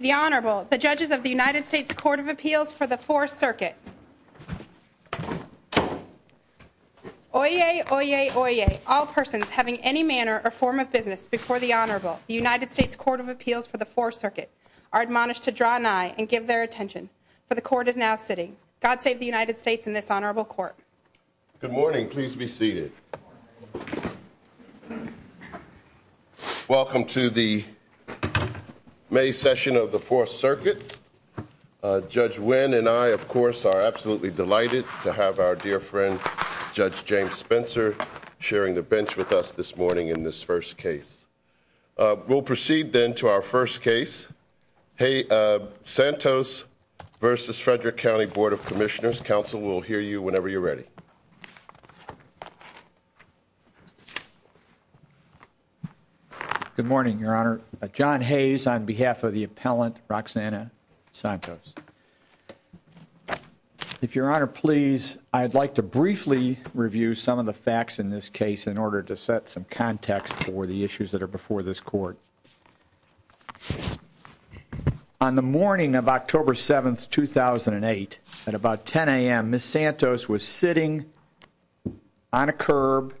The Honorable, the Judges of the United States Court of Appeals for the Fourth Circuit. Oyez, oyez, oyez, all persons having any manner or form of business before the Honorable, the United States Court of Appeals for the Fourth Circuit, are admonished to draw an eye and give their attention. For the Court is now sitting. God save the United States and this Honorable Court. Good morning. Please be seated. Welcome to the May session of the Fourth Circuit. Judge Wynn and I, of course, are absolutely delighted to have our dear friend, Judge James Spencer, sharing the bench with us this morning in this first case. We'll proceed then to our first case. Santos v. Frederick County Board of Commissioners. Counsel will hear you whenever you're ready. Good morning, Your Honor. John Hayes on behalf of the appellant, Roxanna Santos. If Your Honor, please, I'd like to briefly review some of the facts in this case in order to set some context for the issues that are before this court. On the morning of October 7th, 2008, at about 10 a.m., Ms. Santos was sitting on a curb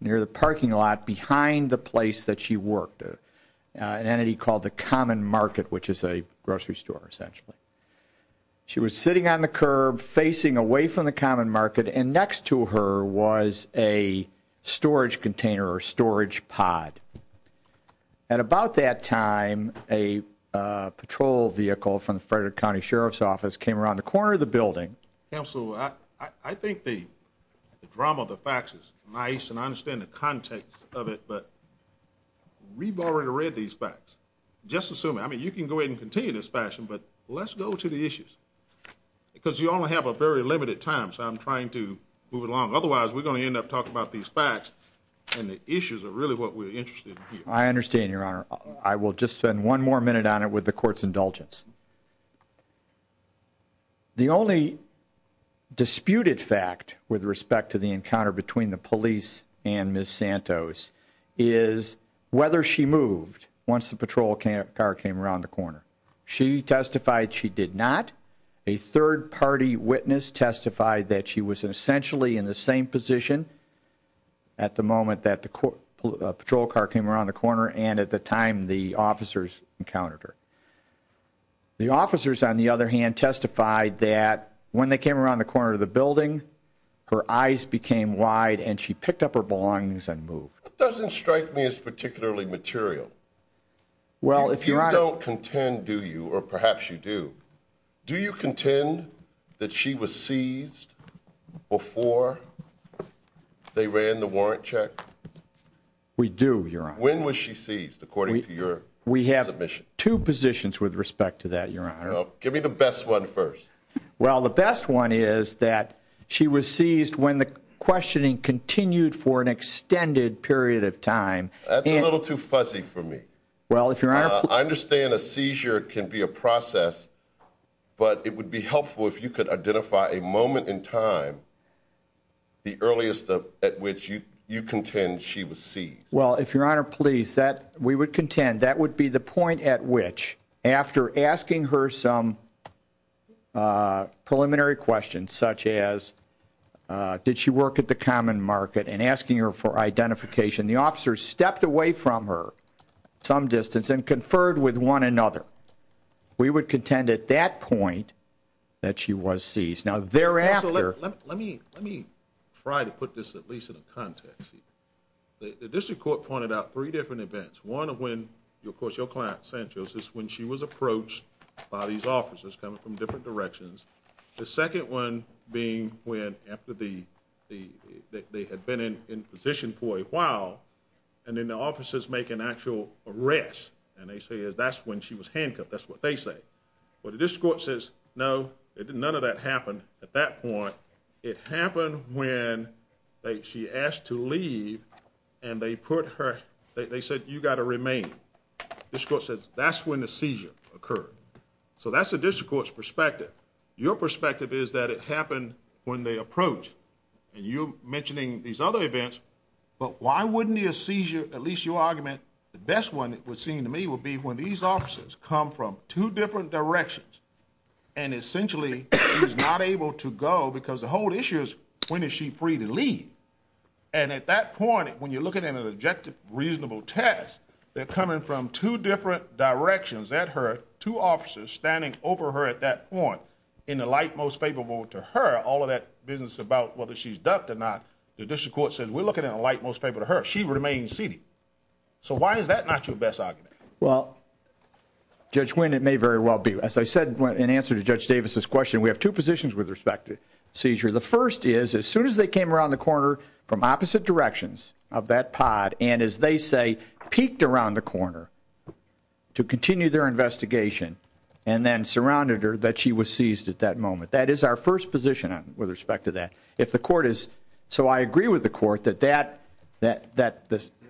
near the parking lot behind the place that she worked, an entity called the Common Market, which is a grocery store, essentially. She was sitting on the curb, facing away from the Common Market, and next to her was a storage container or storage pod. At about that time, a patrol vehicle from the Frederick County Sheriff's Office came around the corner of the building. Counsel, I think the drama of the facts is nice, and I understand the context of it, but we've already read these facts. Just assume, I mean, you can go ahead and continue in this fashion, but let's go to the issues, because you only have a very limited time, so I'm trying to move along. Otherwise, we're going to end up talking about these facts, and the issues are really what we're interested in here. I understand, Your Honor. I will just spend one more minute on it with the court's indulgence. The only disputed fact with respect to the encounter between the police and Ms. Santos is whether she moved once the patrol car came around the corner. She testified she did not. A third-party witness testified that she was essentially in the same position at the moment that the patrol car came around the corner and at the time the officers encountered her. The officers, on the other hand, testified that when they came around the corner of the building, her eyes became wide and she picked up her belongings and moved. That doesn't strike me as particularly material. If you don't contend, do you, or perhaps you do, do you contend that she was seized before they ran the warrant check? We do, Your Honor. When was she seized, according to your submission? We have two positions with respect to that, Your Honor. Give me the best one first. Well, the best one is that she was seized when the questioning continued for an extended period of time. That's a little too fuzzy for me. I understand a seizure can be a process, but it would be helpful if you could identify a moment in time, the earliest at which you contend she was seized. Well, if Your Honor, please, we would contend that would be the point at which, after asking her some preliminary questions, such as did she work at the common market and asking her for identification, the officers stepped away from her some distance and conferred with one another. We would contend at that point that she was seized. Let me try to put this at least in a context. The district court pointed out three different events. One of when, of course, your client, Sanchez, is when she was approached by these officers coming from different directions. The second one being when, after they had been in position for a while, and then the officers make an actual arrest, and they say that's when she was handcuffed. That's what they say. Well, the district court says no, none of that happened at that point. It happened when she asked to leave, and they put her, they said you got to remain. The district court says that's when the seizure occurred. So that's the district court's perspective. Your perspective is that it happened when they approached, and you're mentioning these other events, but why wouldn't a seizure, at least your argument, the best one it would seem to me would be when these officers come from two different directions and essentially is not able to go, because the whole issue is when is she free to leave? And at that point, when you're looking at an objective, reasonable test, they're coming from two different directions at her, two officers standing over her at that point in the light most favorable to her, all of that business about whether she's ducked or not, the district court says we're looking at a light most favorable to her. She remains seated. So why is that not your best argument? Well, Judge Wynn, it may very well be. As I said in answer to Judge Davis' question, we have two positions with respect to seizure. The first is as soon as they came around the corner from opposite directions of that pod and, as they say, peeked around the corner to continue their investigation and then surrounded her, that she was seized at that moment. That is our first position with respect to that. So I agree with the court that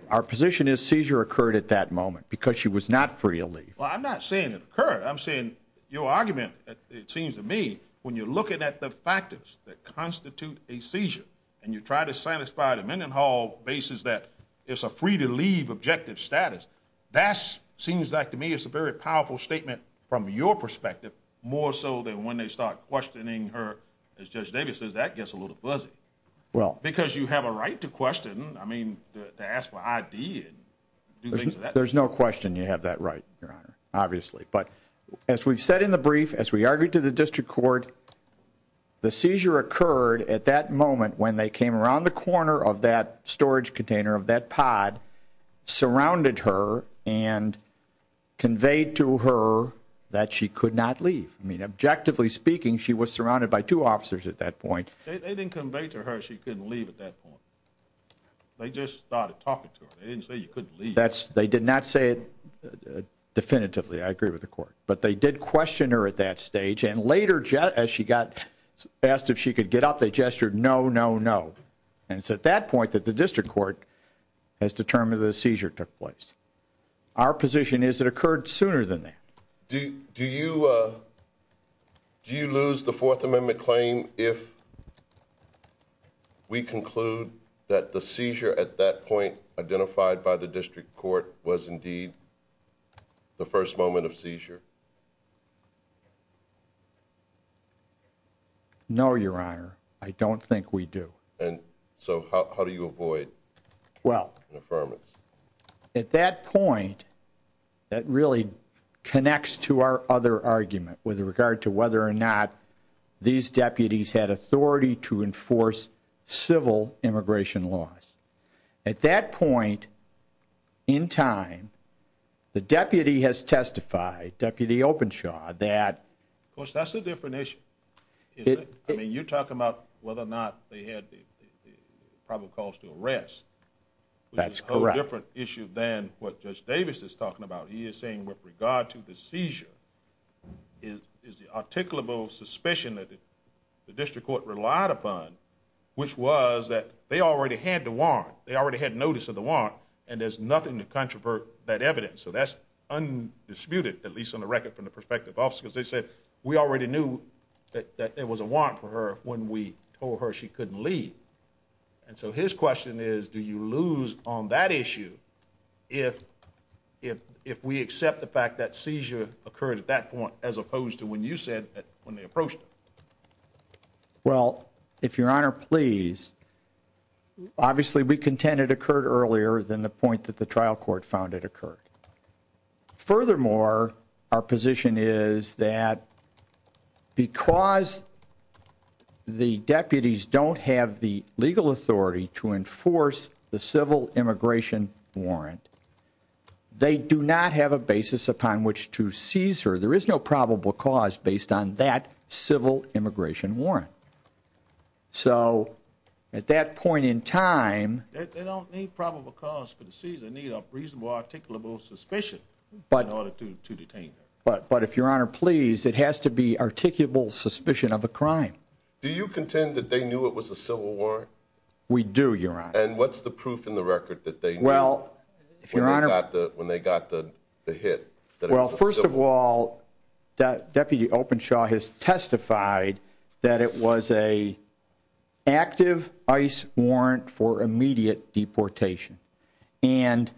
our position is seizure occurred at that moment because she was not free to leave. Well, I'm not saying it occurred. I'm saying your argument, it seems to me, when you're looking at the factors that constitute a seizure and you try to satisfy the Mendenhall basis that it's a free to leave objective status, that seems like to me it's a very powerful statement from your perspective, more so than when they start questioning her. As Judge Davis says, that gets a little fuzzy because you have a right to question. I mean, to ask for ID and do things like that. There's no question you have that right, Your Honor, obviously. But as we've said in the brief, as we argued to the district court, the seizure occurred at that moment when they came around the corner of that storage container of that pod, surrounded her and conveyed to her that she could not leave. I mean, objectively speaking, she was surrounded by two officers at that point. They didn't convey to her she couldn't leave at that point. They just started talking to her. They didn't say you couldn't leave. They did not say it definitively. I agree with the court. But they did question her at that stage. And later, as she got asked if she could get up, they gestured no, no, no. And it's at that point that the district court has determined that a seizure took place. Our position is it occurred sooner than that. Do you lose the Fourth Amendment claim if we conclude that the seizure at that point identified by the district court was indeed the first moment of seizure? No, Your Honor. I don't think we do. And so how do you avoid an affirmance? Well, at that point, that really connects to our other argument with regard to whether or not these deputies had authority to enforce civil immigration laws. At that point in time, the deputy has testified, Deputy Openshaw, that... Of course, that's a different issue. I mean, you're talking about whether or not they had the probable cause to arrest. That's correct. Which is a whole different issue than what Judge Davis is talking about. He is saying with regard to the seizure is the articulable suspicion that the district court relied upon, which was that they already had the warrant, they already had notice of the warrant, and there's nothing to controvert that evidence. So that's undisputed, at least on the record from the perspective of officers. They said, we already knew that there was a warrant for her when we told her she couldn't leave. And so his question is, do you lose on that issue if we accept the fact that seizure occurred at that point as opposed to when you said that when they approached her? Well, if Your Honor please, obviously we contend it occurred earlier than the point that the trial court found it occurred. Furthermore, our position is that because the deputies don't have the legal authority to enforce the civil immigration warrant, they do not have a basis upon which to seize her. There is no probable cause based on that civil immigration warrant. So at that point in time... But if Your Honor please, it has to be articulable suspicion of a crime. Do you contend that they knew it was a civil warrant? We do, Your Honor. And what's the proof in the record that they knew when they got the hit? Well, first of all, Deputy Openshaw has testified that it was an active ICE warrant for immediate deportation. And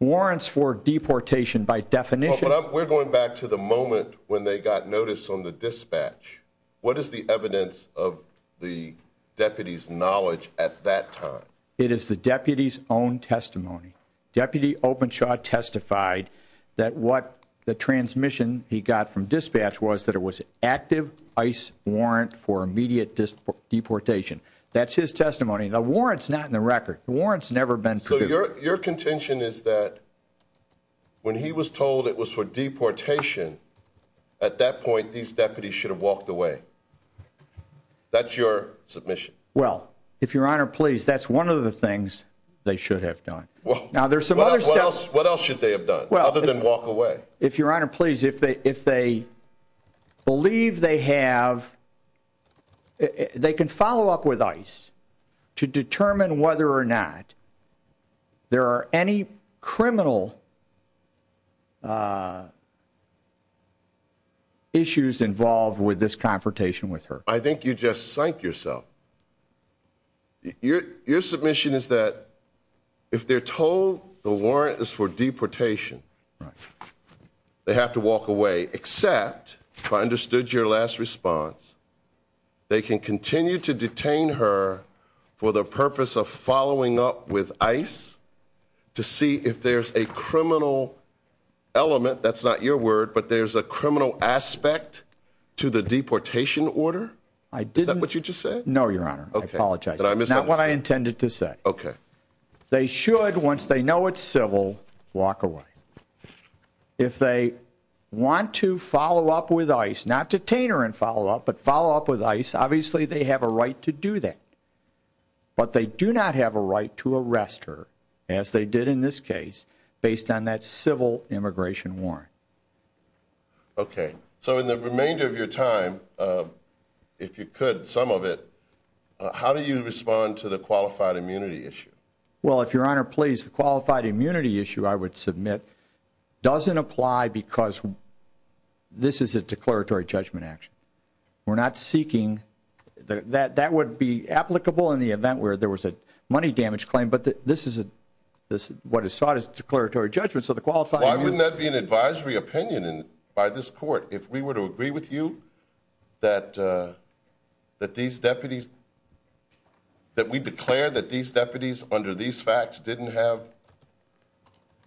warrants for deportation by definition... We're going back to the moment when they got notice on the dispatch. What is the evidence of the deputy's knowledge at that time? It is the deputy's own testimony. Deputy Openshaw testified that what the transmission he got from dispatch was that it was an active ICE warrant for immediate deportation. That's his testimony. The warrant's not in the record. The warrant's never been produced. Your contention is that when he was told it was for deportation, at that point these deputies should have walked away. That's your submission. Well, if Your Honor please, that's one of the things they should have done. What else should they have done other than walk away? If Your Honor please, if they believe they have... They can follow up with ICE to determine whether or not there are any criminal issues involved with this confrontation with her. I think you just psyched yourself. Your submission is that if they're told the warrant is for deportation, they have to walk away, except, if I understood your last response, they can continue to detain her for the purpose of following up with ICE to see if there's a criminal element, that's not your word, but there's a criminal aspect to the deportation order? I didn't... No, Your Honor, I apologize. But I misunderstood. That's not what I intended to say. Okay. They should, once they know it's civil, walk away. If they want to follow up with ICE, not detain her and follow up, but follow up with ICE, obviously they have a right to do that. But they do not have a right to arrest her, as they did in this case, based on that civil immigration warrant. Okay. So in the remainder of your time, if you could, some of it, how do you respond to the qualified immunity issue? Well, if Your Honor, please, the qualified immunity issue, I would submit, doesn't apply because this is a declaratory judgment action. We're not seeking... That would be applicable in the event where there was a money damage claim, but this is what is sought as declaratory judgment. So the qualified immunity... Why wouldn't that be an advisory opinion by this court if we were to agree with you that these deputies, that we declare that these deputies under these facts didn't have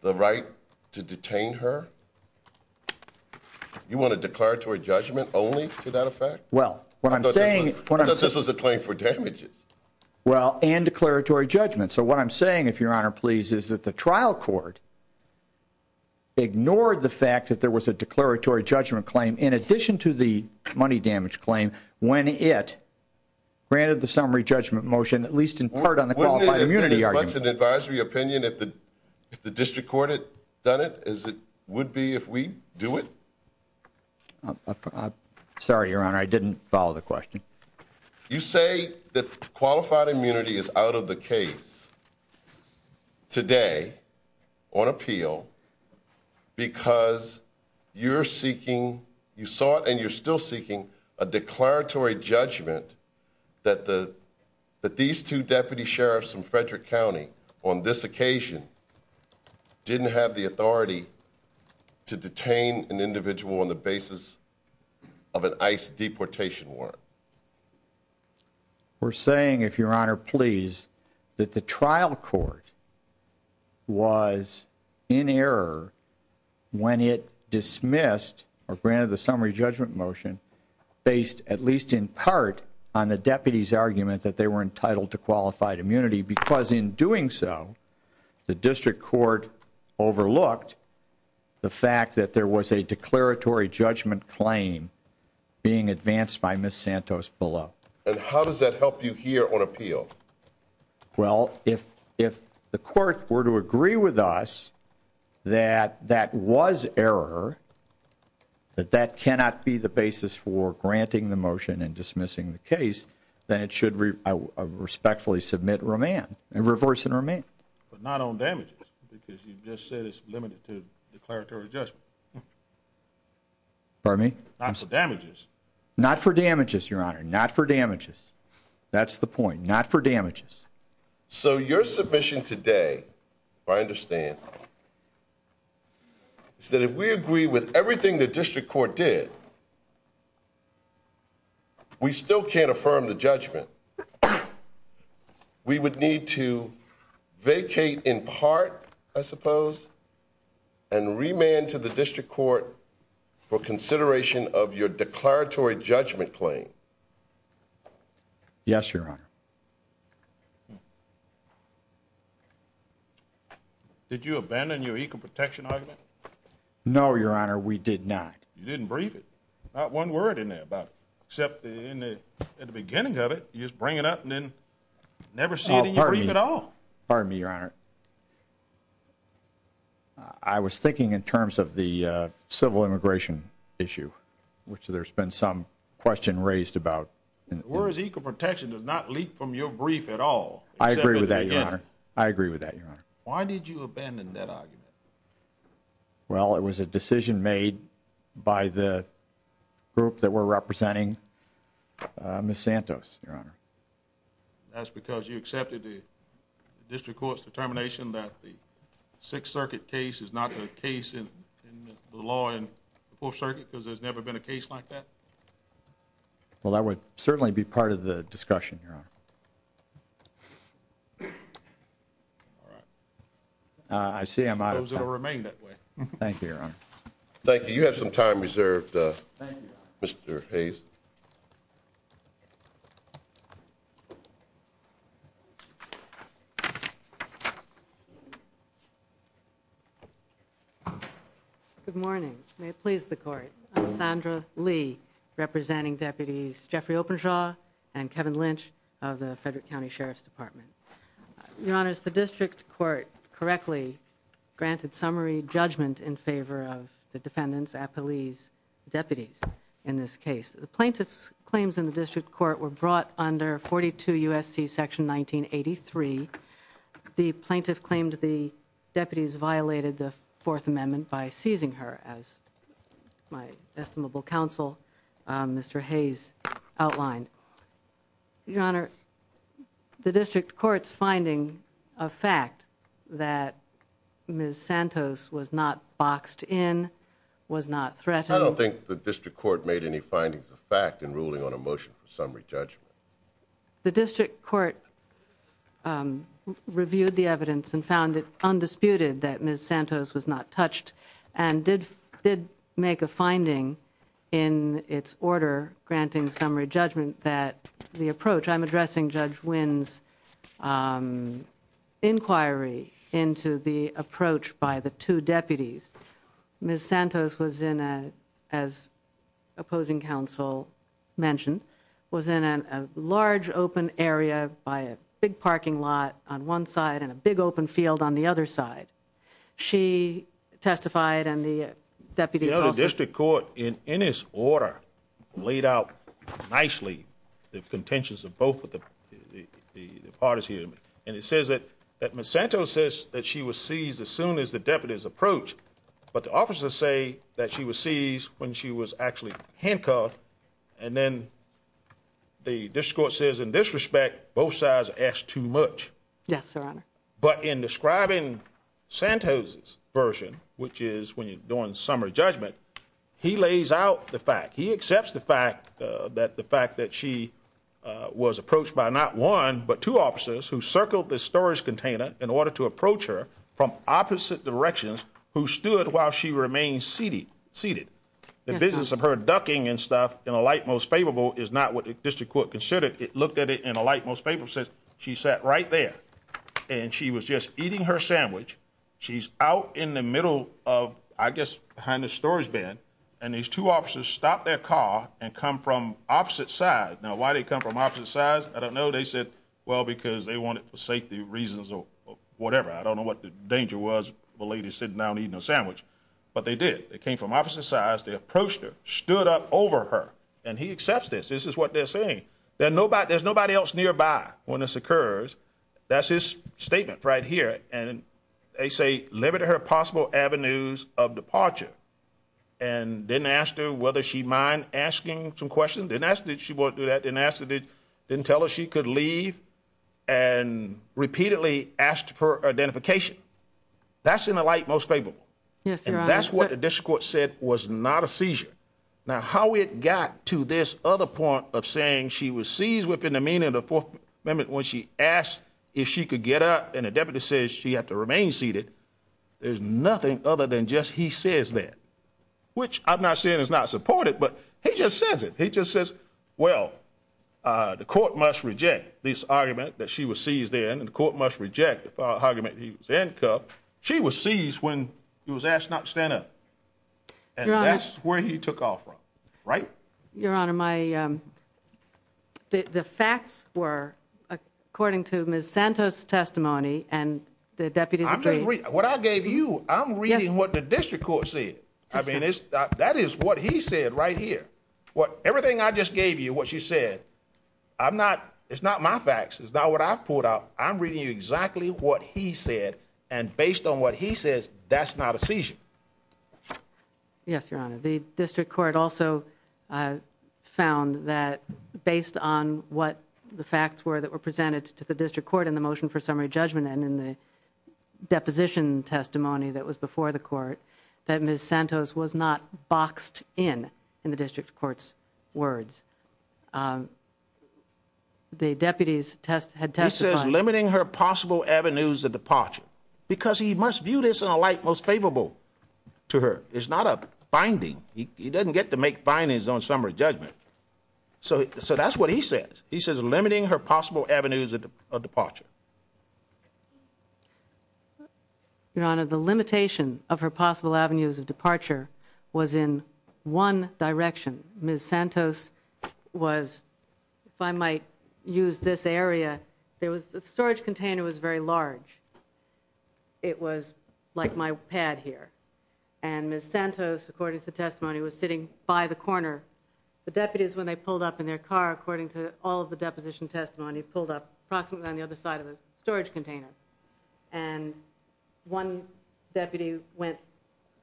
the right to detain her? You want a declaratory judgment only to that effect? Well, what I'm saying... I thought this was a claim for damages. Well, and declaratory judgment. So what I'm saying, if Your Honor, please, is that the trial court ignored the fact that there was a declaratory judgment claim in addition to the money damage claim when it granted the summary judgment motion, at least in part, on the qualified immunity argument. Wouldn't it have been as much an advisory opinion if the district court had done it as it would be if we do it? Sorry, Your Honor. I didn't follow the question. You say that qualified immunity is out of the case today on appeal because you're seeking... You sought and you're still seeking a declaratory judgment that these two deputy sheriffs from Frederick County on this occasion didn't have the authority to detain an individual on the basis of an ICE deportation warrant. We're saying, if Your Honor, please, that the trial court was in error when it dismissed or granted the summary judgment motion based, at least in part, on the deputy's argument that they were entitled to qualified immunity because in doing so, the district court overlooked the fact that there was a declaratory judgment claim being advanced by Ms. Santos below. And how does that help you here on appeal? Well, if the court were to agree with us that that was error, that that cannot be the basis for granting the motion and dismissing the case, then it should respectfully submit remand and reverse remand. But not on damages because you just said it's limited to declaratory judgment. Pardon me? Not for damages. Not for damages, Your Honor. Not for damages. That's the point. Not for damages. So your submission today, if I understand, is that if we agree with everything the district court did, we still can't affirm the judgment. We would need to vacate in part, I suppose, and remand to the district court for consideration of your declaratory judgment claim. Yes, Your Honor. Did you abandon your equal protection argument? No, Your Honor, we did not. You didn't brief it. Not one word in there about it. Except in the beginning of it, you just bring it up and then never see it in your brief at all. Pardon me, Your Honor. I was thinking in terms of the civil immigration issue, which there's been some question raised about. Whereas equal protection does not leak from your brief at all. I agree with that, Your Honor. I agree with that, Your Honor. Why did you abandon that argument? Well, it was a decision made by the group that we're representing, Ms. Santos, Your Honor. That's because you accepted the district court's determination that the Sixth Circuit case is not the case in the law in the Fourth Circuit, because there's never been a case like that? Well, that would certainly be part of the discussion, Your Honor. All right. I see I'm out of time. I suppose it will remain that way. Thank you, Your Honor. Thank you. You have some time reserved, Mr. Hayes. Good morning. May it please the Court. I'm Sandra Lee, representing Deputies Jeffrey Openshaw and Kevin Lynch of the Frederick County Sheriff's Department. Your Honor, the district court correctly granted summary judgment in favor of the defendants, appellees, deputies, in this case. The plaintiff's claims in the district court were brought under 42 U.S.C. section 1983. The plaintiff claimed the deputies violated the Fourth Amendment by seizing her, as my estimable counsel, Mr. Hayes, outlined. Your Honor, the district court's finding of fact that Ms. Santos was not boxed in was not threatened. I don't think the district court made any findings of fact in ruling on a motion for summary judgment. The district court reviewed the evidence and found it undisputed that Ms. Santos was not touched and did make a finding in its order granting summary judgment that the approach I'm addressing Judge Wynn's inquiry into the approach by the two deputies. Ms. Santos was in a, as opposing counsel mentioned, was in a large open area by a big parking lot on one side and a big open field on the other side. She testified and the deputies also The district court, in its order, laid out nicely the contentions of both the parties here. And it says that Ms. Santos says that she was seized as soon as the deputies approached. But the officers say that she was seized when she was actually handcuffed. And then the district court says in this respect, both sides asked too much. Yes, Your Honor. But in describing Santos's version, which is when you're doing summary judgment, he lays out the fact. That the fact that she was approached by not one, but two officers who circled the storage container in order to approach her from opposite directions who stood while she remained seated. The business of her ducking and stuff in a light most favorable is not what the district court considered. It looked at it in a light most favorable sense. She sat right there and she was just eating her sandwich. She's out in the middle of, I guess, behind the storage bin. And these two officers stopped their car and come from opposite sides. Now, why did it come from opposite sides? I don't know. They said, well, because they want it for safety reasons or whatever. I don't know what the danger was. The lady sitting down eating a sandwich. But they did. They came from opposite sides. They approached her, stood up over her, and he accepts this. This is what they're saying. There's nobody else nearby when this occurs. That's his statement right here. And they say limited her possible avenues of departure. And didn't ask her whether she'd mind asking some questions. Didn't ask if she wanted to do that. Didn't tell her she could leave. And repeatedly asked for identification. That's in a light most favorable. And that's what the district court said was not a seizure. Now, how it got to this other point of saying she was seized within the meaning of the Fourth Amendment when she asked if she could get up and the deputy says she had to remain seated, there's nothing other than just he says that. Which I'm not saying is not supported, but he just says it. He just says, well, the court must reject this argument that she was seized in and the court must reject the argument he was handcuffed. She was seized when he was asked not to stand up. And that's where he took off from. Right? Your Honor, the facts were, according to Ms. Santos' testimony and the deputy's opinion. What I gave you, I'm reading what the district court said. I mean, that is what he said right here. Everything I just gave you, what you said, it's not my facts. It's not what I've pulled out. I'm reading you exactly what he said. And based on what he says, that's not a seizure. Yes, Your Honor. The district court also found that based on what the facts were that were presented to the district court in the motion for summary judgment and in the deposition testimony that was before the court, that Ms. Santos was not boxed in, in the district court's words. The deputy had testified. He says limiting her possible avenues of departure because he must view this in a light most favorable to her. It's not a finding. He doesn't get to make findings on summary judgment. So that's what he says. He says limiting her possible avenues of departure. Your Honor, the limitation of her possible avenues of departure was in one direction. Ms. Santos was, if I might use this area, the storage container was very large. It was like my pad here. And Ms. Santos, according to the testimony, was sitting by the corner. The deputies, when they pulled up in their car, according to all of the deposition testimony, pulled up approximately on the other side of the storage container. And one deputy went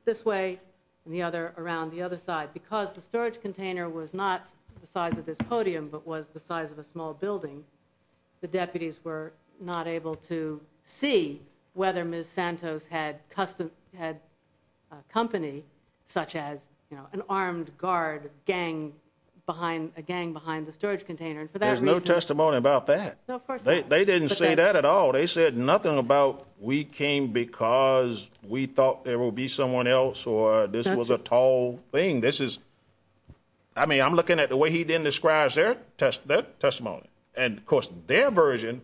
this way and the other around the other side. Because the storage container was not the size of this podium but was the size of a small building, the deputies were not able to see whether Ms. Santos had company such as an armed guard gang behind the storage container. There's no testimony about that. They didn't say that at all. They said nothing about we came because we thought there would be someone else or this was a tall thing. I mean, I'm looking at the way he then describes their testimony. And, of course, their version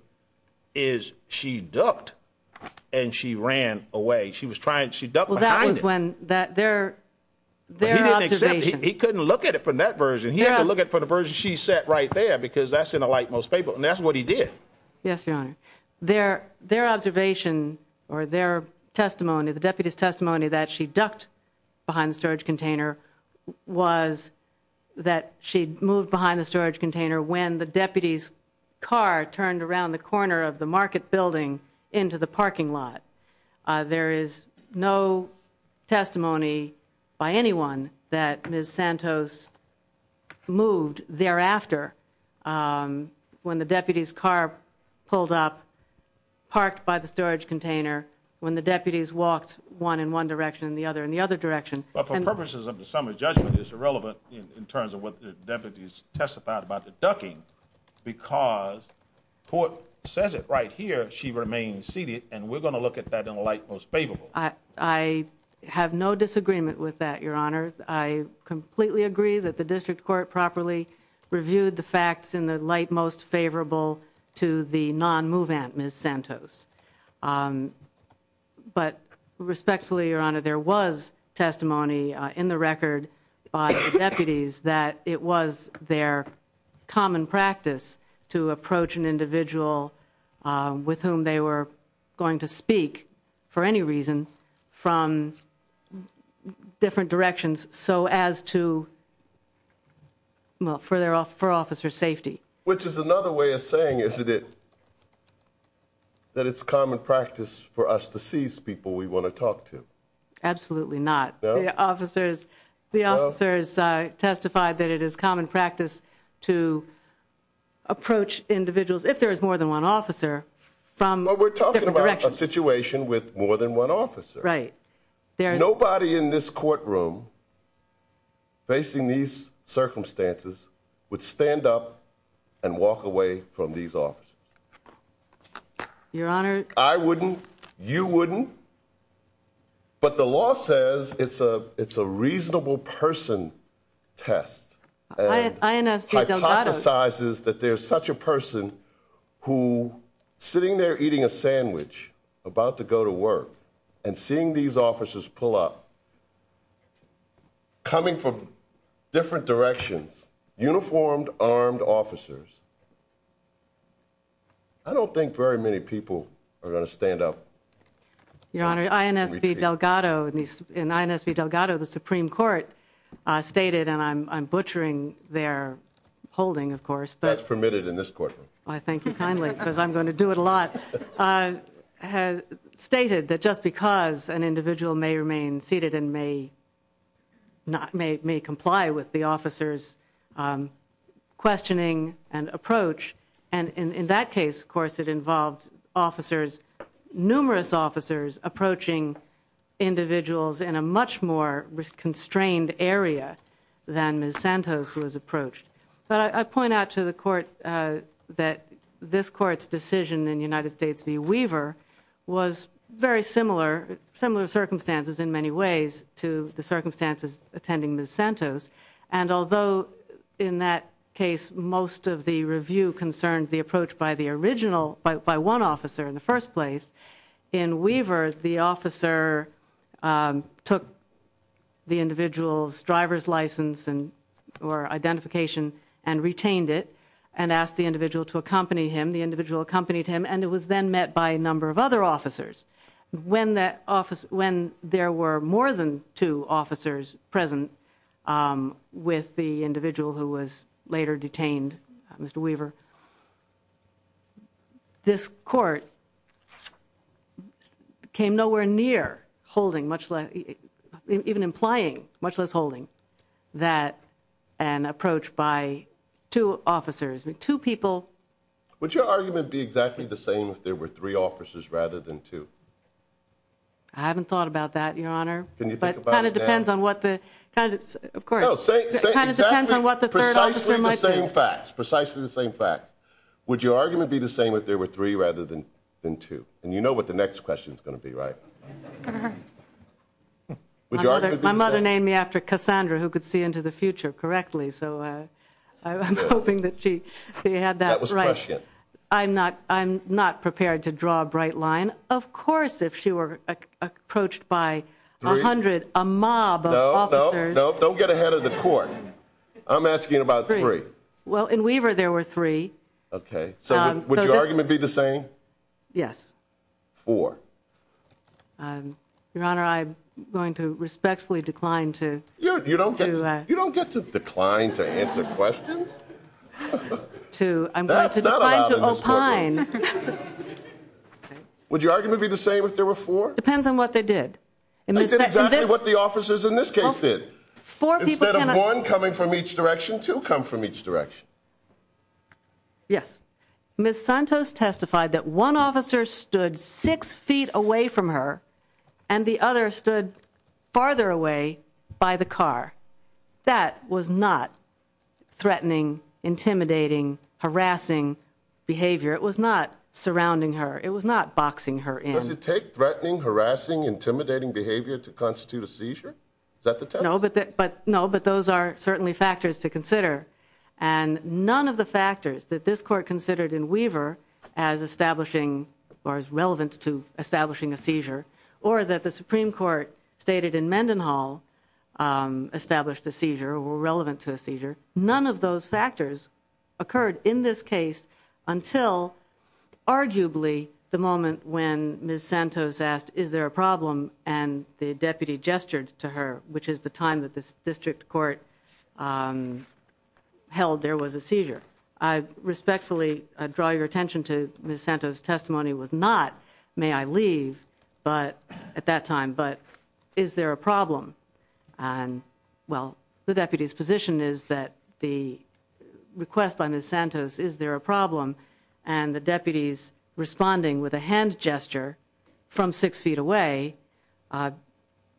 is she ducked and she ran away. She was trying to duck behind it. Well, that was when their observation. He couldn't look at it from that version. He had to look at it from the version she said right there because that's in the lightmost paper, and that's what he did. Yes, Your Honor. Their observation or their testimony, the deputy's testimony that she ducked behind the storage container was that she'd moved behind the storage container when the deputy's car turned around the corner of the market building into the parking lot. There is no testimony by anyone that Ms. Santos moved thereafter when the deputy's car pulled up, parked by the storage container, when the deputy's walked one in one direction and the other in the other direction. But for purposes of the summary judgment, it's irrelevant in terms of what the deputy's testified about the ducking because the court says it right here, she remained seated, and we're going to look at that in the lightmost favorable. I have no disagreement with that, Your Honor. I completely agree that the district court properly reviewed the facts in the lightmost favorable to the non-movement Ms. Santos. But respectfully, Your Honor, there was testimony in the record by the deputies that it was their common practice to approach an individual with whom they were going to speak for any reason from different directions so as to, well, for officer's safety. Which is another way of saying, isn't it, that it's common practice for us to seize people we want to talk to? Absolutely not. The officers testified that it is common practice to approach individuals, if there is more than one officer, from different directions. But we're talking about a situation with more than one officer. Right. Nobody in this courtroom, facing these circumstances, would stand up and walk away from these officers. Your Honor. I wouldn't. You wouldn't. But the law says it's a reasonable person test. And hypothesizes that there's such a person who, sitting there eating a sandwich, about to go to work, and seeing these officers pull up, coming from different directions, uniformed, armed officers, I don't think very many people are going to stand up. Your Honor, INSB Delgado, the Supreme Court stated, and I'm butchering their holding, of course. That's permitted in this courtroom. I thank you kindly because I'm going to do it a lot. Stated that just because an individual may remain seated and may comply with the officer's questioning and approach, and in that case, of course, it involved officers, numerous officers approaching individuals in a much more constrained area than Ms. Santos was approached. But I point out to the Court that this Court's decision in United States v. Weaver was very similar, similar circumstances in many ways, to the circumstances attending Ms. Santos. And although in that case most of the review concerned the approach by the original, by one officer in the first place, in Weaver, the officer took the individual's driver's license or identification and retained it and asked the individual to accompany him. The individual accompanied him, and it was then met by a number of other officers. When there were more than two officers present with the individual who was later detained, Mr. Weaver, this Court came nowhere near holding much less, even implying much less holding that an approach by two officers, two people. Would your argument be exactly the same if there were three officers rather than two? I haven't thought about that, Your Honor. Can you think about it now? But it kind of depends on what the, kind of, of course. No, say exactly, precisely the same facts, precisely the same facts. Would your argument be the same if there were three rather than two? And you know what the next question's going to be, right? Uh-huh. Would your argument be the same? My mother named me after Cassandra, who could see into the future correctly, so I'm hoping that she had that right. That was prescient. I'm not, I'm not prepared to draw a bright line. Of course if she were approached by a hundred, a mob of officers. No, no, don't get ahead of the Court. I'm asking about three. Well, in Weaver there were three. Okay. So would your argument be the same? Yes. Four. Your Honor, I'm going to respectfully decline to. You don't get to decline to answer questions? To, I'm going to decline to opine. That's not allowed in this courtroom. Would your argument be the same if there were four? Depends on what they did. I did exactly what the officers in this case did. Four people. Instead of one coming from each direction, two come from each direction. Yes. Ms. Santos testified that one officer stood six feet away from her and the other stood farther away by the car. That was not threatening, intimidating, harassing behavior. It was not surrounding her. It was not boxing her in. Does it take threatening, harassing, intimidating behavior to constitute a seizure? Is that the test? No, but those are certainly factors to consider, and none of the factors that this Court considered in Weaver as establishing or as relevant to establishing a seizure or that the Supreme Court stated in Mendenhall established a seizure or were relevant to a seizure, none of those factors occurred in this case until arguably the moment when Ms. Santos asked, Is there a problem? And the deputy gestured to her, which is the time that this district court held there was a seizure. I respectfully draw your attention to Ms. Santos' testimony was not, May I leave at that time, but is there a problem? Well, the deputy's position is that the request by Ms. Santos, Is there a problem? And the deputy's responding with a hand gesture from six feet away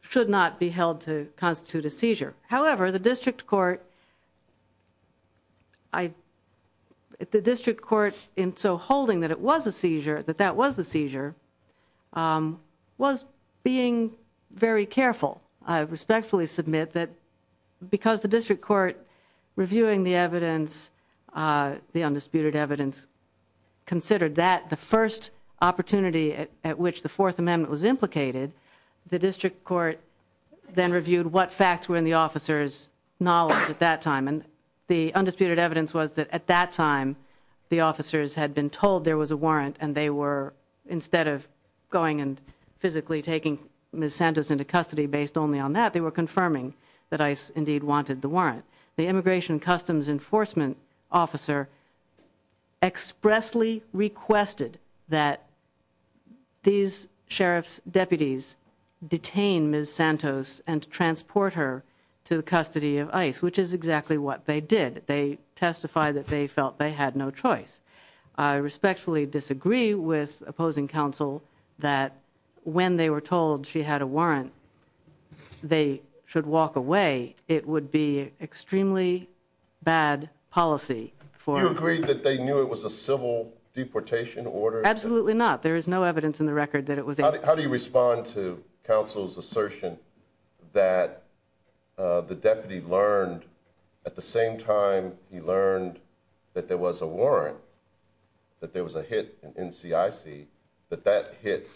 should not be held to constitute a seizure. However, the district court in so holding that it was a seizure, that that was a seizure, was being very careful. I respectfully submit that because the district court reviewing the evidence, the undisputed evidence, considered that the first opportunity at which the Fourth Amendment was implicated, the district court then reviewed what facts were in the officer's knowledge at that time, and the undisputed evidence was that at that time the officers had been told there was a warrant and they were instead of going and physically taking Ms. Santos into custody based only on that, they were confirming that ICE indeed wanted the warrant. The Immigration and Customs Enforcement officer expressly requested that these sheriff's deputies detain Ms. Santos and transport her to the custody of ICE, which is exactly what they did. They testified that they felt they had no choice. I respectfully disagree with opposing counsel that when they were told she had a warrant, they should walk away. It would be extremely bad policy for- You agree that they knew it was a civil deportation order? Absolutely not. There is no evidence in the record that it was- How do you respond to counsel's assertion that the deputy learned at the same time he learned that there was a warrant, that there was a hit in NCIC, that that hit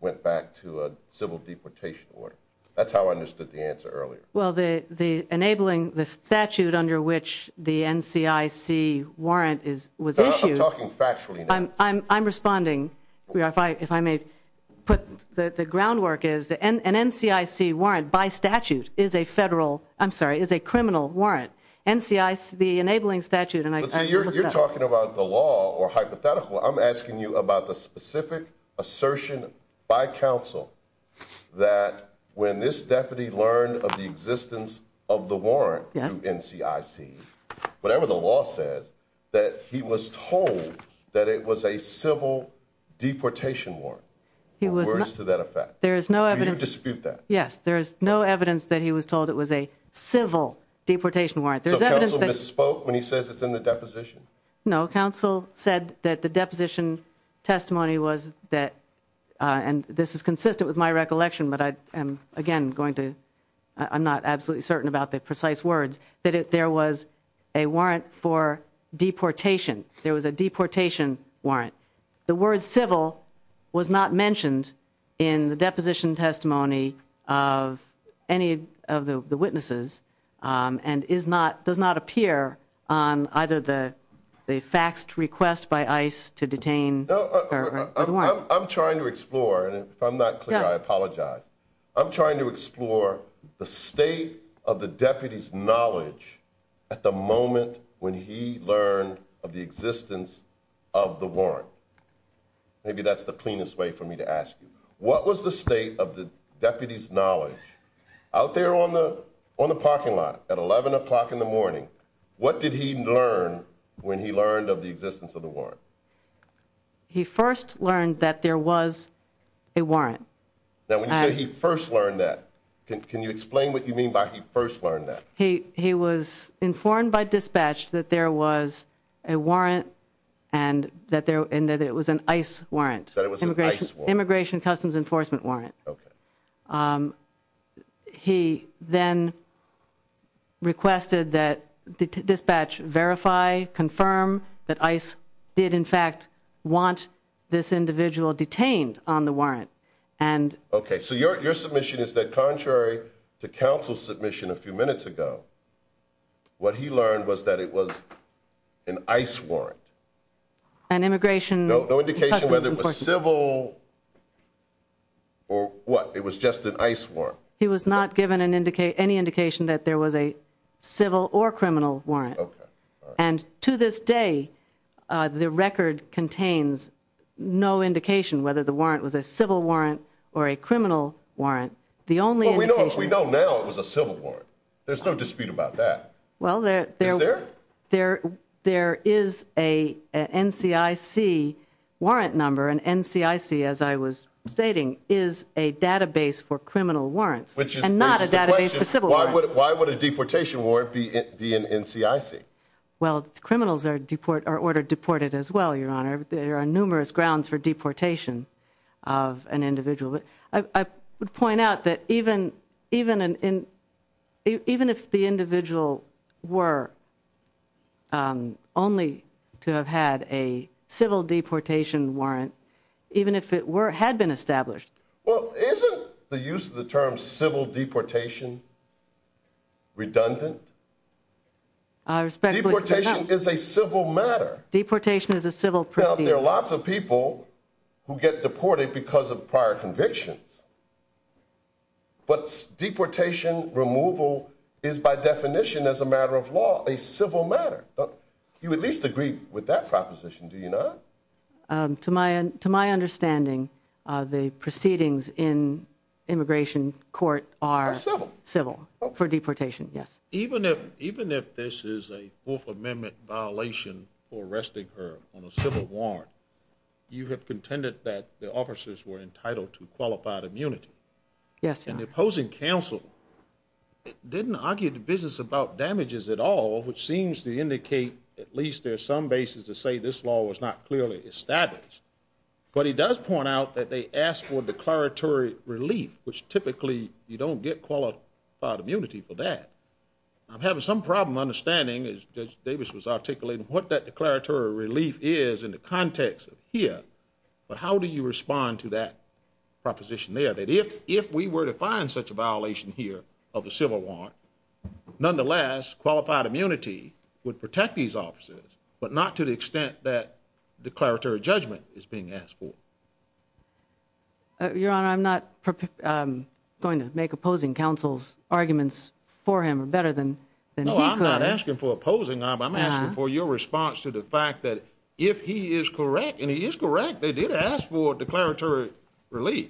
went back to a civil deportation order? That's how I understood the answer earlier. Well, enabling the statute under which the NCIC warrant was issued- I'm talking factually now. I'm responding, if I may put- The groundwork is an NCIC warrant by statute is a federal- I'm sorry, is a criminal warrant. NCIC, the enabling statute- You're talking about the law or hypothetical. I'm asking you about the specific assertion by counsel that when this deputy learned of the existence of the warrant to NCIC, whatever the law says, that he was told that it was a civil deportation warrant, or words to that effect. Do you dispute that? Yes, there is no evidence that he was told it was a civil deportation warrant. So counsel misspoke when he says it's in the deposition? No, counsel said that the deposition testimony was that- and this is consistent with my recollection, but I am, again, going to- I'm not absolutely certain about the precise words- that there was a warrant for deportation. There was a deportation warrant. The word civil was not mentioned in the deposition testimony of any of the witnesses and does not appear on either the faxed request by ICE to detain the warrant. I'm trying to explore, and if I'm not clear, I apologize. I'm trying to explore the state of the deputy's knowledge at the moment when he learned of the existence of the warrant. Maybe that's the cleanest way for me to ask you. What was the state of the deputy's knowledge out there on the parking lot at 11 o'clock in the morning? What did he learn when he learned of the existence of the warrant? He first learned that there was a warrant. Now when you say he first learned that, can you explain what you mean by he first learned that? He was informed by dispatch that there was a warrant and that it was an ICE warrant. That it was an ICE warrant. Immigration Customs Enforcement warrant. He then requested that dispatch verify, confirm that ICE did, in fact, want this individual detained on the warrant. Okay, so your submission is that contrary to counsel's submission a few minutes ago, what he learned was that it was an ICE warrant. No indication whether it was civil or what, it was just an ICE warrant. He was not given any indication that there was a civil or criminal warrant. And to this day, the record contains no indication whether the warrant was a civil warrant or a criminal warrant. We know now it was a civil warrant. There's no dispute about that. Well, there is a NCIC warrant number and NCIC, as I was stating, is a database for criminal warrants. Which raises the question, why would a deportation warrant be an NCIC? Well, criminals are ordered deported as well, Your Honor. There are numerous grounds for deportation of an individual. I would point out that even if the individual were only to have had a civil deportation warrant, even if it had been established. Well, isn't the use of the term civil deportation redundant? Deportation is a civil matter. Deportation is a civil procedure. There are lots of people who get deported because of prior convictions. But deportation removal is by definition, as a matter of law, a civil matter. You at least agree with that proposition, do you not? To my understanding, the proceedings in immigration court are civil for deportation, yes. Even if this is a Fourth Amendment violation for arresting her on a civil warrant, you have contended that the officers were entitled to qualified immunity. Yes, Your Honor. And the opposing counsel didn't argue the business about damages at all, which seems to indicate at least there's some basis to say this law was not clearly established. But he does point out that they asked for declaratory relief, which typically you don't get qualified immunity for that. I'm having some problem understanding, as Judge Davis was articulating, what that declaratory relief is in the context of here. But how do you respond to that proposition there, that if we were to find such a violation here of the civil warrant, nonetheless, qualified immunity would protect these officers, but not to the extent that declaratory judgment is being asked for? Your Honor, I'm not going to make opposing counsel's arguments for him better than he could. No, I'm not asking for opposing. I'm asking for your response to the fact that if he is correct, and he is correct, they did ask for declaratory relief.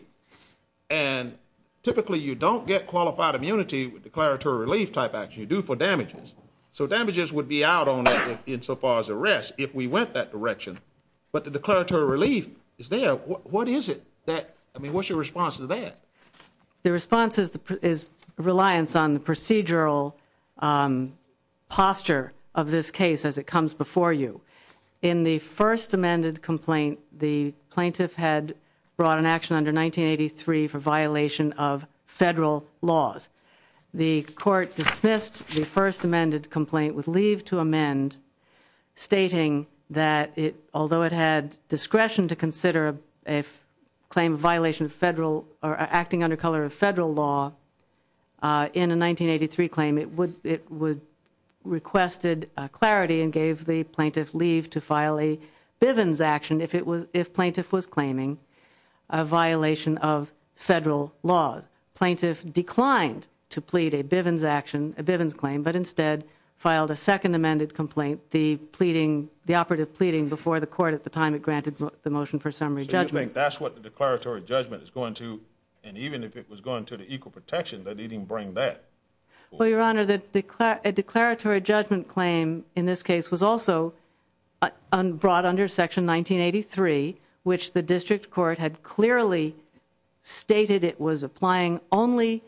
And typically you don't get qualified immunity with declaratory relief type action. You do for damages. So damages would be out on that insofar as arrest if we went that direction. But the declaratory relief is there. What is it? I mean, what's your response to that? The response is reliance on the procedural posture of this case as it comes before you. In the first amended complaint, the plaintiff had brought an action under 1983 for violation of federal laws. The court dismissed the first amended complaint with leave to amend, stating that although it had discretion to consider a claim of violation of federal or acting under color of federal law in a 1983 claim, it requested clarity and gave the plaintiff leave to file a Bivens action if plaintiff was claiming a violation of federal laws. The plaintiff declined to plead a Bivens action, a Bivens claim, but instead filed a second amended complaint, the pleading, the operative pleading before the court at the time it granted the motion for summary judgment. So you think that's what the declaratory judgment is going to, and even if it was going to the equal protection, that it didn't bring that? Well, Your Honor, a declaratory judgment claim in this case was also brought under Section 1983, which the district court had clearly stated it was applying only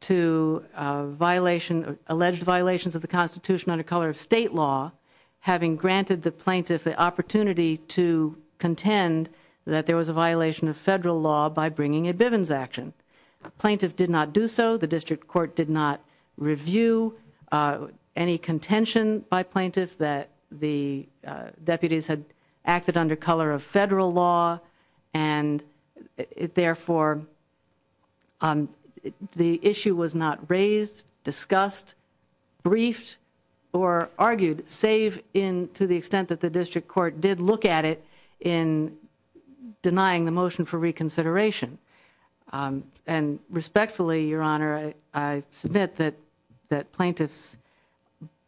to violation, alleged violations of the Constitution under color of state law, having granted the plaintiff the opportunity to contend that there was a violation of federal law by bringing a Bivens action. The plaintiff did not do so. The district court did not review any contention by plaintiffs that the deputies had acted under color of federal law, and therefore the issue was not raised, discussed, briefed, or argued, save in to the extent that the district court did look at it in denying the motion for reconsideration. And respectfully, Your Honor, I submit that plaintiffs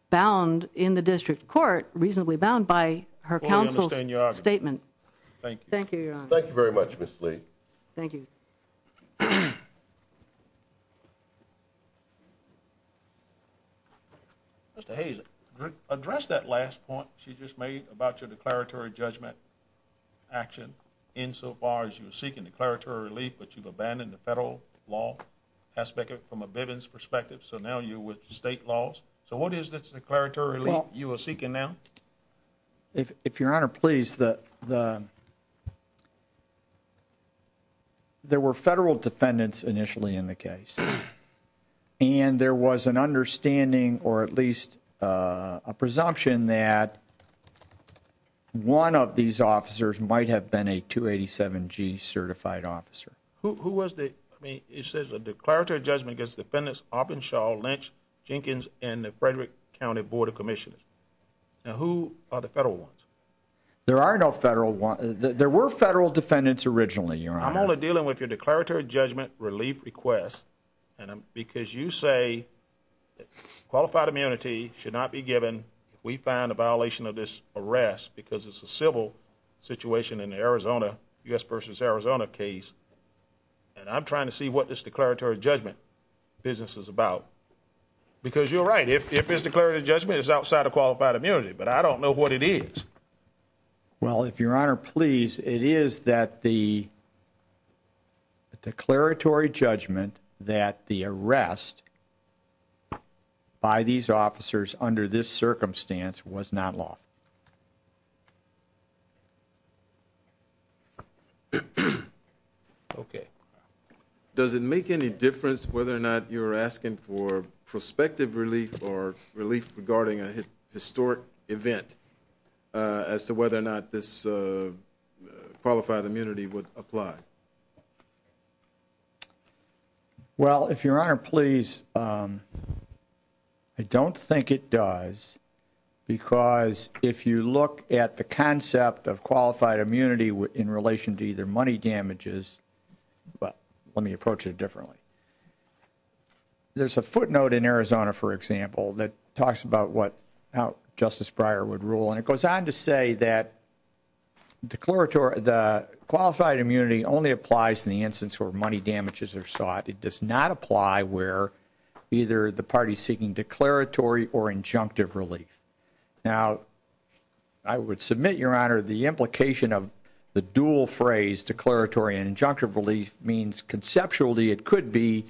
bound in the district court, reasonably bound by her counsel's statement. Thank you. Thank you, Your Honor. Thank you very much, Ms. Lee. Thank you. Mr. Hayes, address that last point she just made about your declaratory judgment action insofar as you're seeking declaratory relief, but you've abandoned the federal law aspect from a Bivens perspective, so now you're with state laws. So what is this declaratory relief you are seeking now? If Your Honor, please, there were federal defendants initially in the case, and there was an understanding, or at least a presumption, that one of these officers might have been a 287G certified officer. Who was the? I mean, it says a declaratory judgment against defendants Arpinshaw, Lynch, Jenkins, and the Frederick County Board of Commissioners. Now, who are the federal ones? There are no federal ones. There were federal defendants originally, Your Honor. I'm only dealing with your declaratory judgment relief request, because you say qualified immunity should not be given if we find a violation of this arrest because it's a civil situation in the Arizona, U.S. v. Arizona case, and I'm trying to see what this declaratory judgment business is about. Because you're right, if it's declaratory judgment, it's outside of qualified immunity, but I don't know what it is. Well, if Your Honor, please, it is that the declaratory judgment that the arrest by these officers under this circumstance was not lawful. Okay. Does it make any difference whether or not you're asking for prospective relief regarding a historic event as to whether or not this qualified immunity would apply? Well, if Your Honor, please, I don't think it does, because if you look at the concept of qualified immunity in relation to either money damages, but let me approach it differently. There's a footnote in Arizona, for example, that talks about how Justice Breyer would rule, and it goes on to say that the qualified immunity only applies in the instance where money damages are sought. It does not apply where either the party is seeking declaratory or injunctive relief. Now, I would submit, Your Honor, the implication of the dual phrase, declaratory and injunctive relief, means conceptually it could be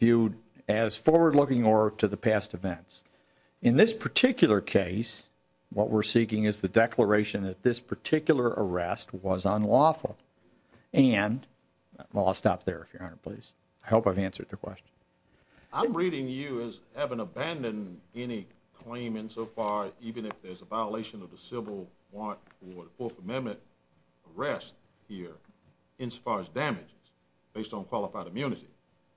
viewed as forward-looking or to the past events. In this particular case, what we're seeking is the declaration that this particular arrest was unlawful. And, well, I'll stop there, Your Honor, please. I hope I've answered the question. I'm reading you as having abandoned any claim insofar, even if there's a violation of the civil warrant for the Fourth Amendment arrest here, insofar as damages based on qualified immunity.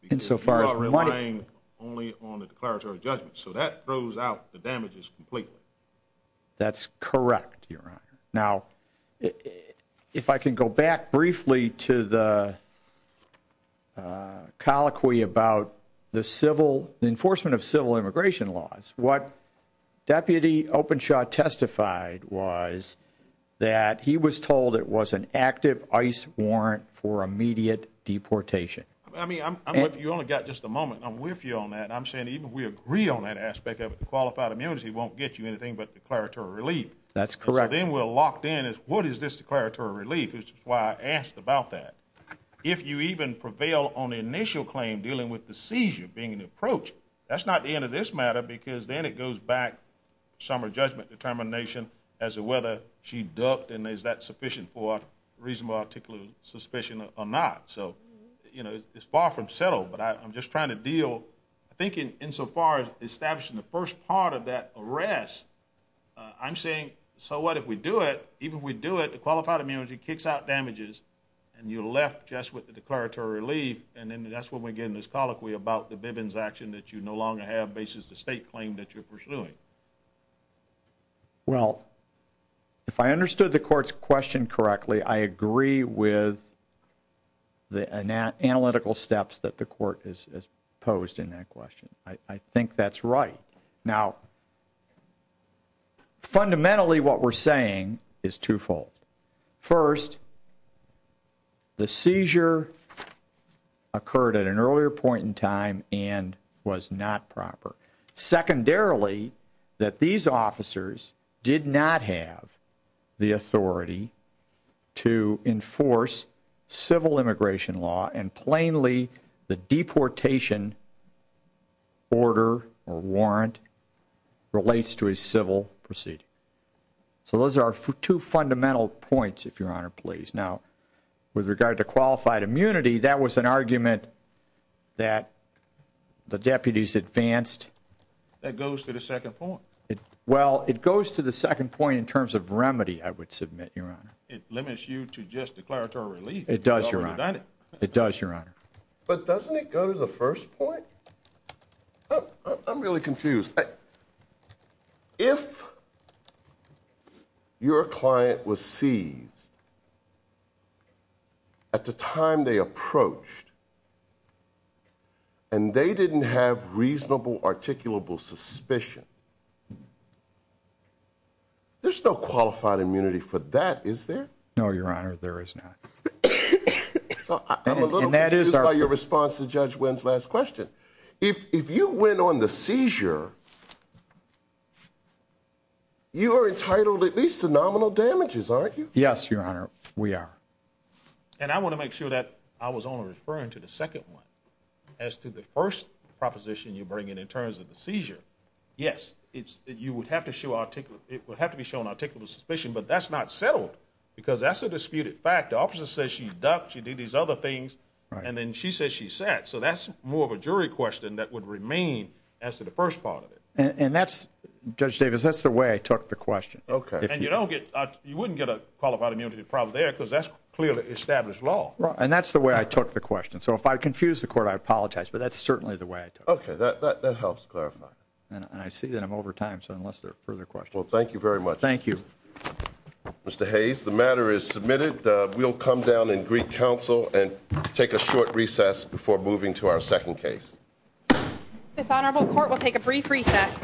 Insofar as money. Because you are relying only on a declaratory judgment. So that throws out the damages completely. That's correct, Your Honor. Now, if I can go back briefly to the colloquy about the enforcement of civil immigration laws, what Deputy Openshaw testified was that he was told it was an active ICE warrant for immediate deportation. I mean, you only got just a moment. I'm with you on that. I'm saying even if we agree on that aspect of it, qualified immunity won't get you anything but declaratory relief. That's correct. So then we're locked in as what is this declaratory relief? Which is why I asked about that. If you even prevail on the initial claim dealing with the seizure being an approach, that's not the end of this matter because then it goes back to some of her judgment determination as to whether she ducked and is that sufficient for a reasonable, articulate suspicion or not. So, you know, it's far from settled. But I'm just trying to deal, I think, insofar as establishing the first part of that arrest, I'm saying so what if we do it? Even if we do it, qualified immunity kicks out damages and you're left just with the declaratory relief, and then that's when we get in this colloquy about the Bivens action that you no longer have bases the state claim that you're pursuing. Well, if I understood the court's question correctly, I agree with the analytical steps that the court has posed in that question. I think that's right. Now, fundamentally what we're saying is twofold. First, the seizure occurred at an earlier point in time and was not proper. Secondarily, that these officers did not have the authority to enforce civil immigration law and plainly the deportation order or warrant relates to a civil proceeding. So those are two fundamental points, if Your Honor, please. Now, with regard to qualified immunity, that was an argument that the deputies advanced. That goes to the second point. Well, it goes to the second point in terms of remedy, I would submit, Your Honor. It limits you to just declaratory relief. It does, Your Honor. It does, Your Honor. But doesn't it go to the first point? I'm really confused. If your client was seized at the time they approached and they didn't have reasonable articulable suspicion, there's no qualified immunity for that, is there? No, Your Honor, there is not. I'm a little confused by your response to Judge Wynn's last question. If you went on the seizure, you are entitled at least to nominal damages, aren't you? Yes, Your Honor, we are. And I want to make sure that I was only referring to the second one. As to the first proposition you bring in in terms of the seizure, yes, you would have to be shown articulable suspicion, but that's not settled because that's a disputed fact. The officer says she ducked, she did these other things, and then she says she sat. So that's more of a jury question that would remain as to the first part of it. And that's, Judge Davis, that's the way I took the question. Okay. And you wouldn't get a qualified immunity problem there because that's clearly established law. And that's the way I took the question. So if I confuse the Court, I apologize, but that's certainly the way I took it. Okay, that helps clarify. And I see that I'm over time, so unless there are further questions. Well, thank you very much. Thank you. Mr. Hayes, the matter is submitted. We'll come down and greet counsel and take a short recess before moving to our second case. This Honorable Court will take a brief recess.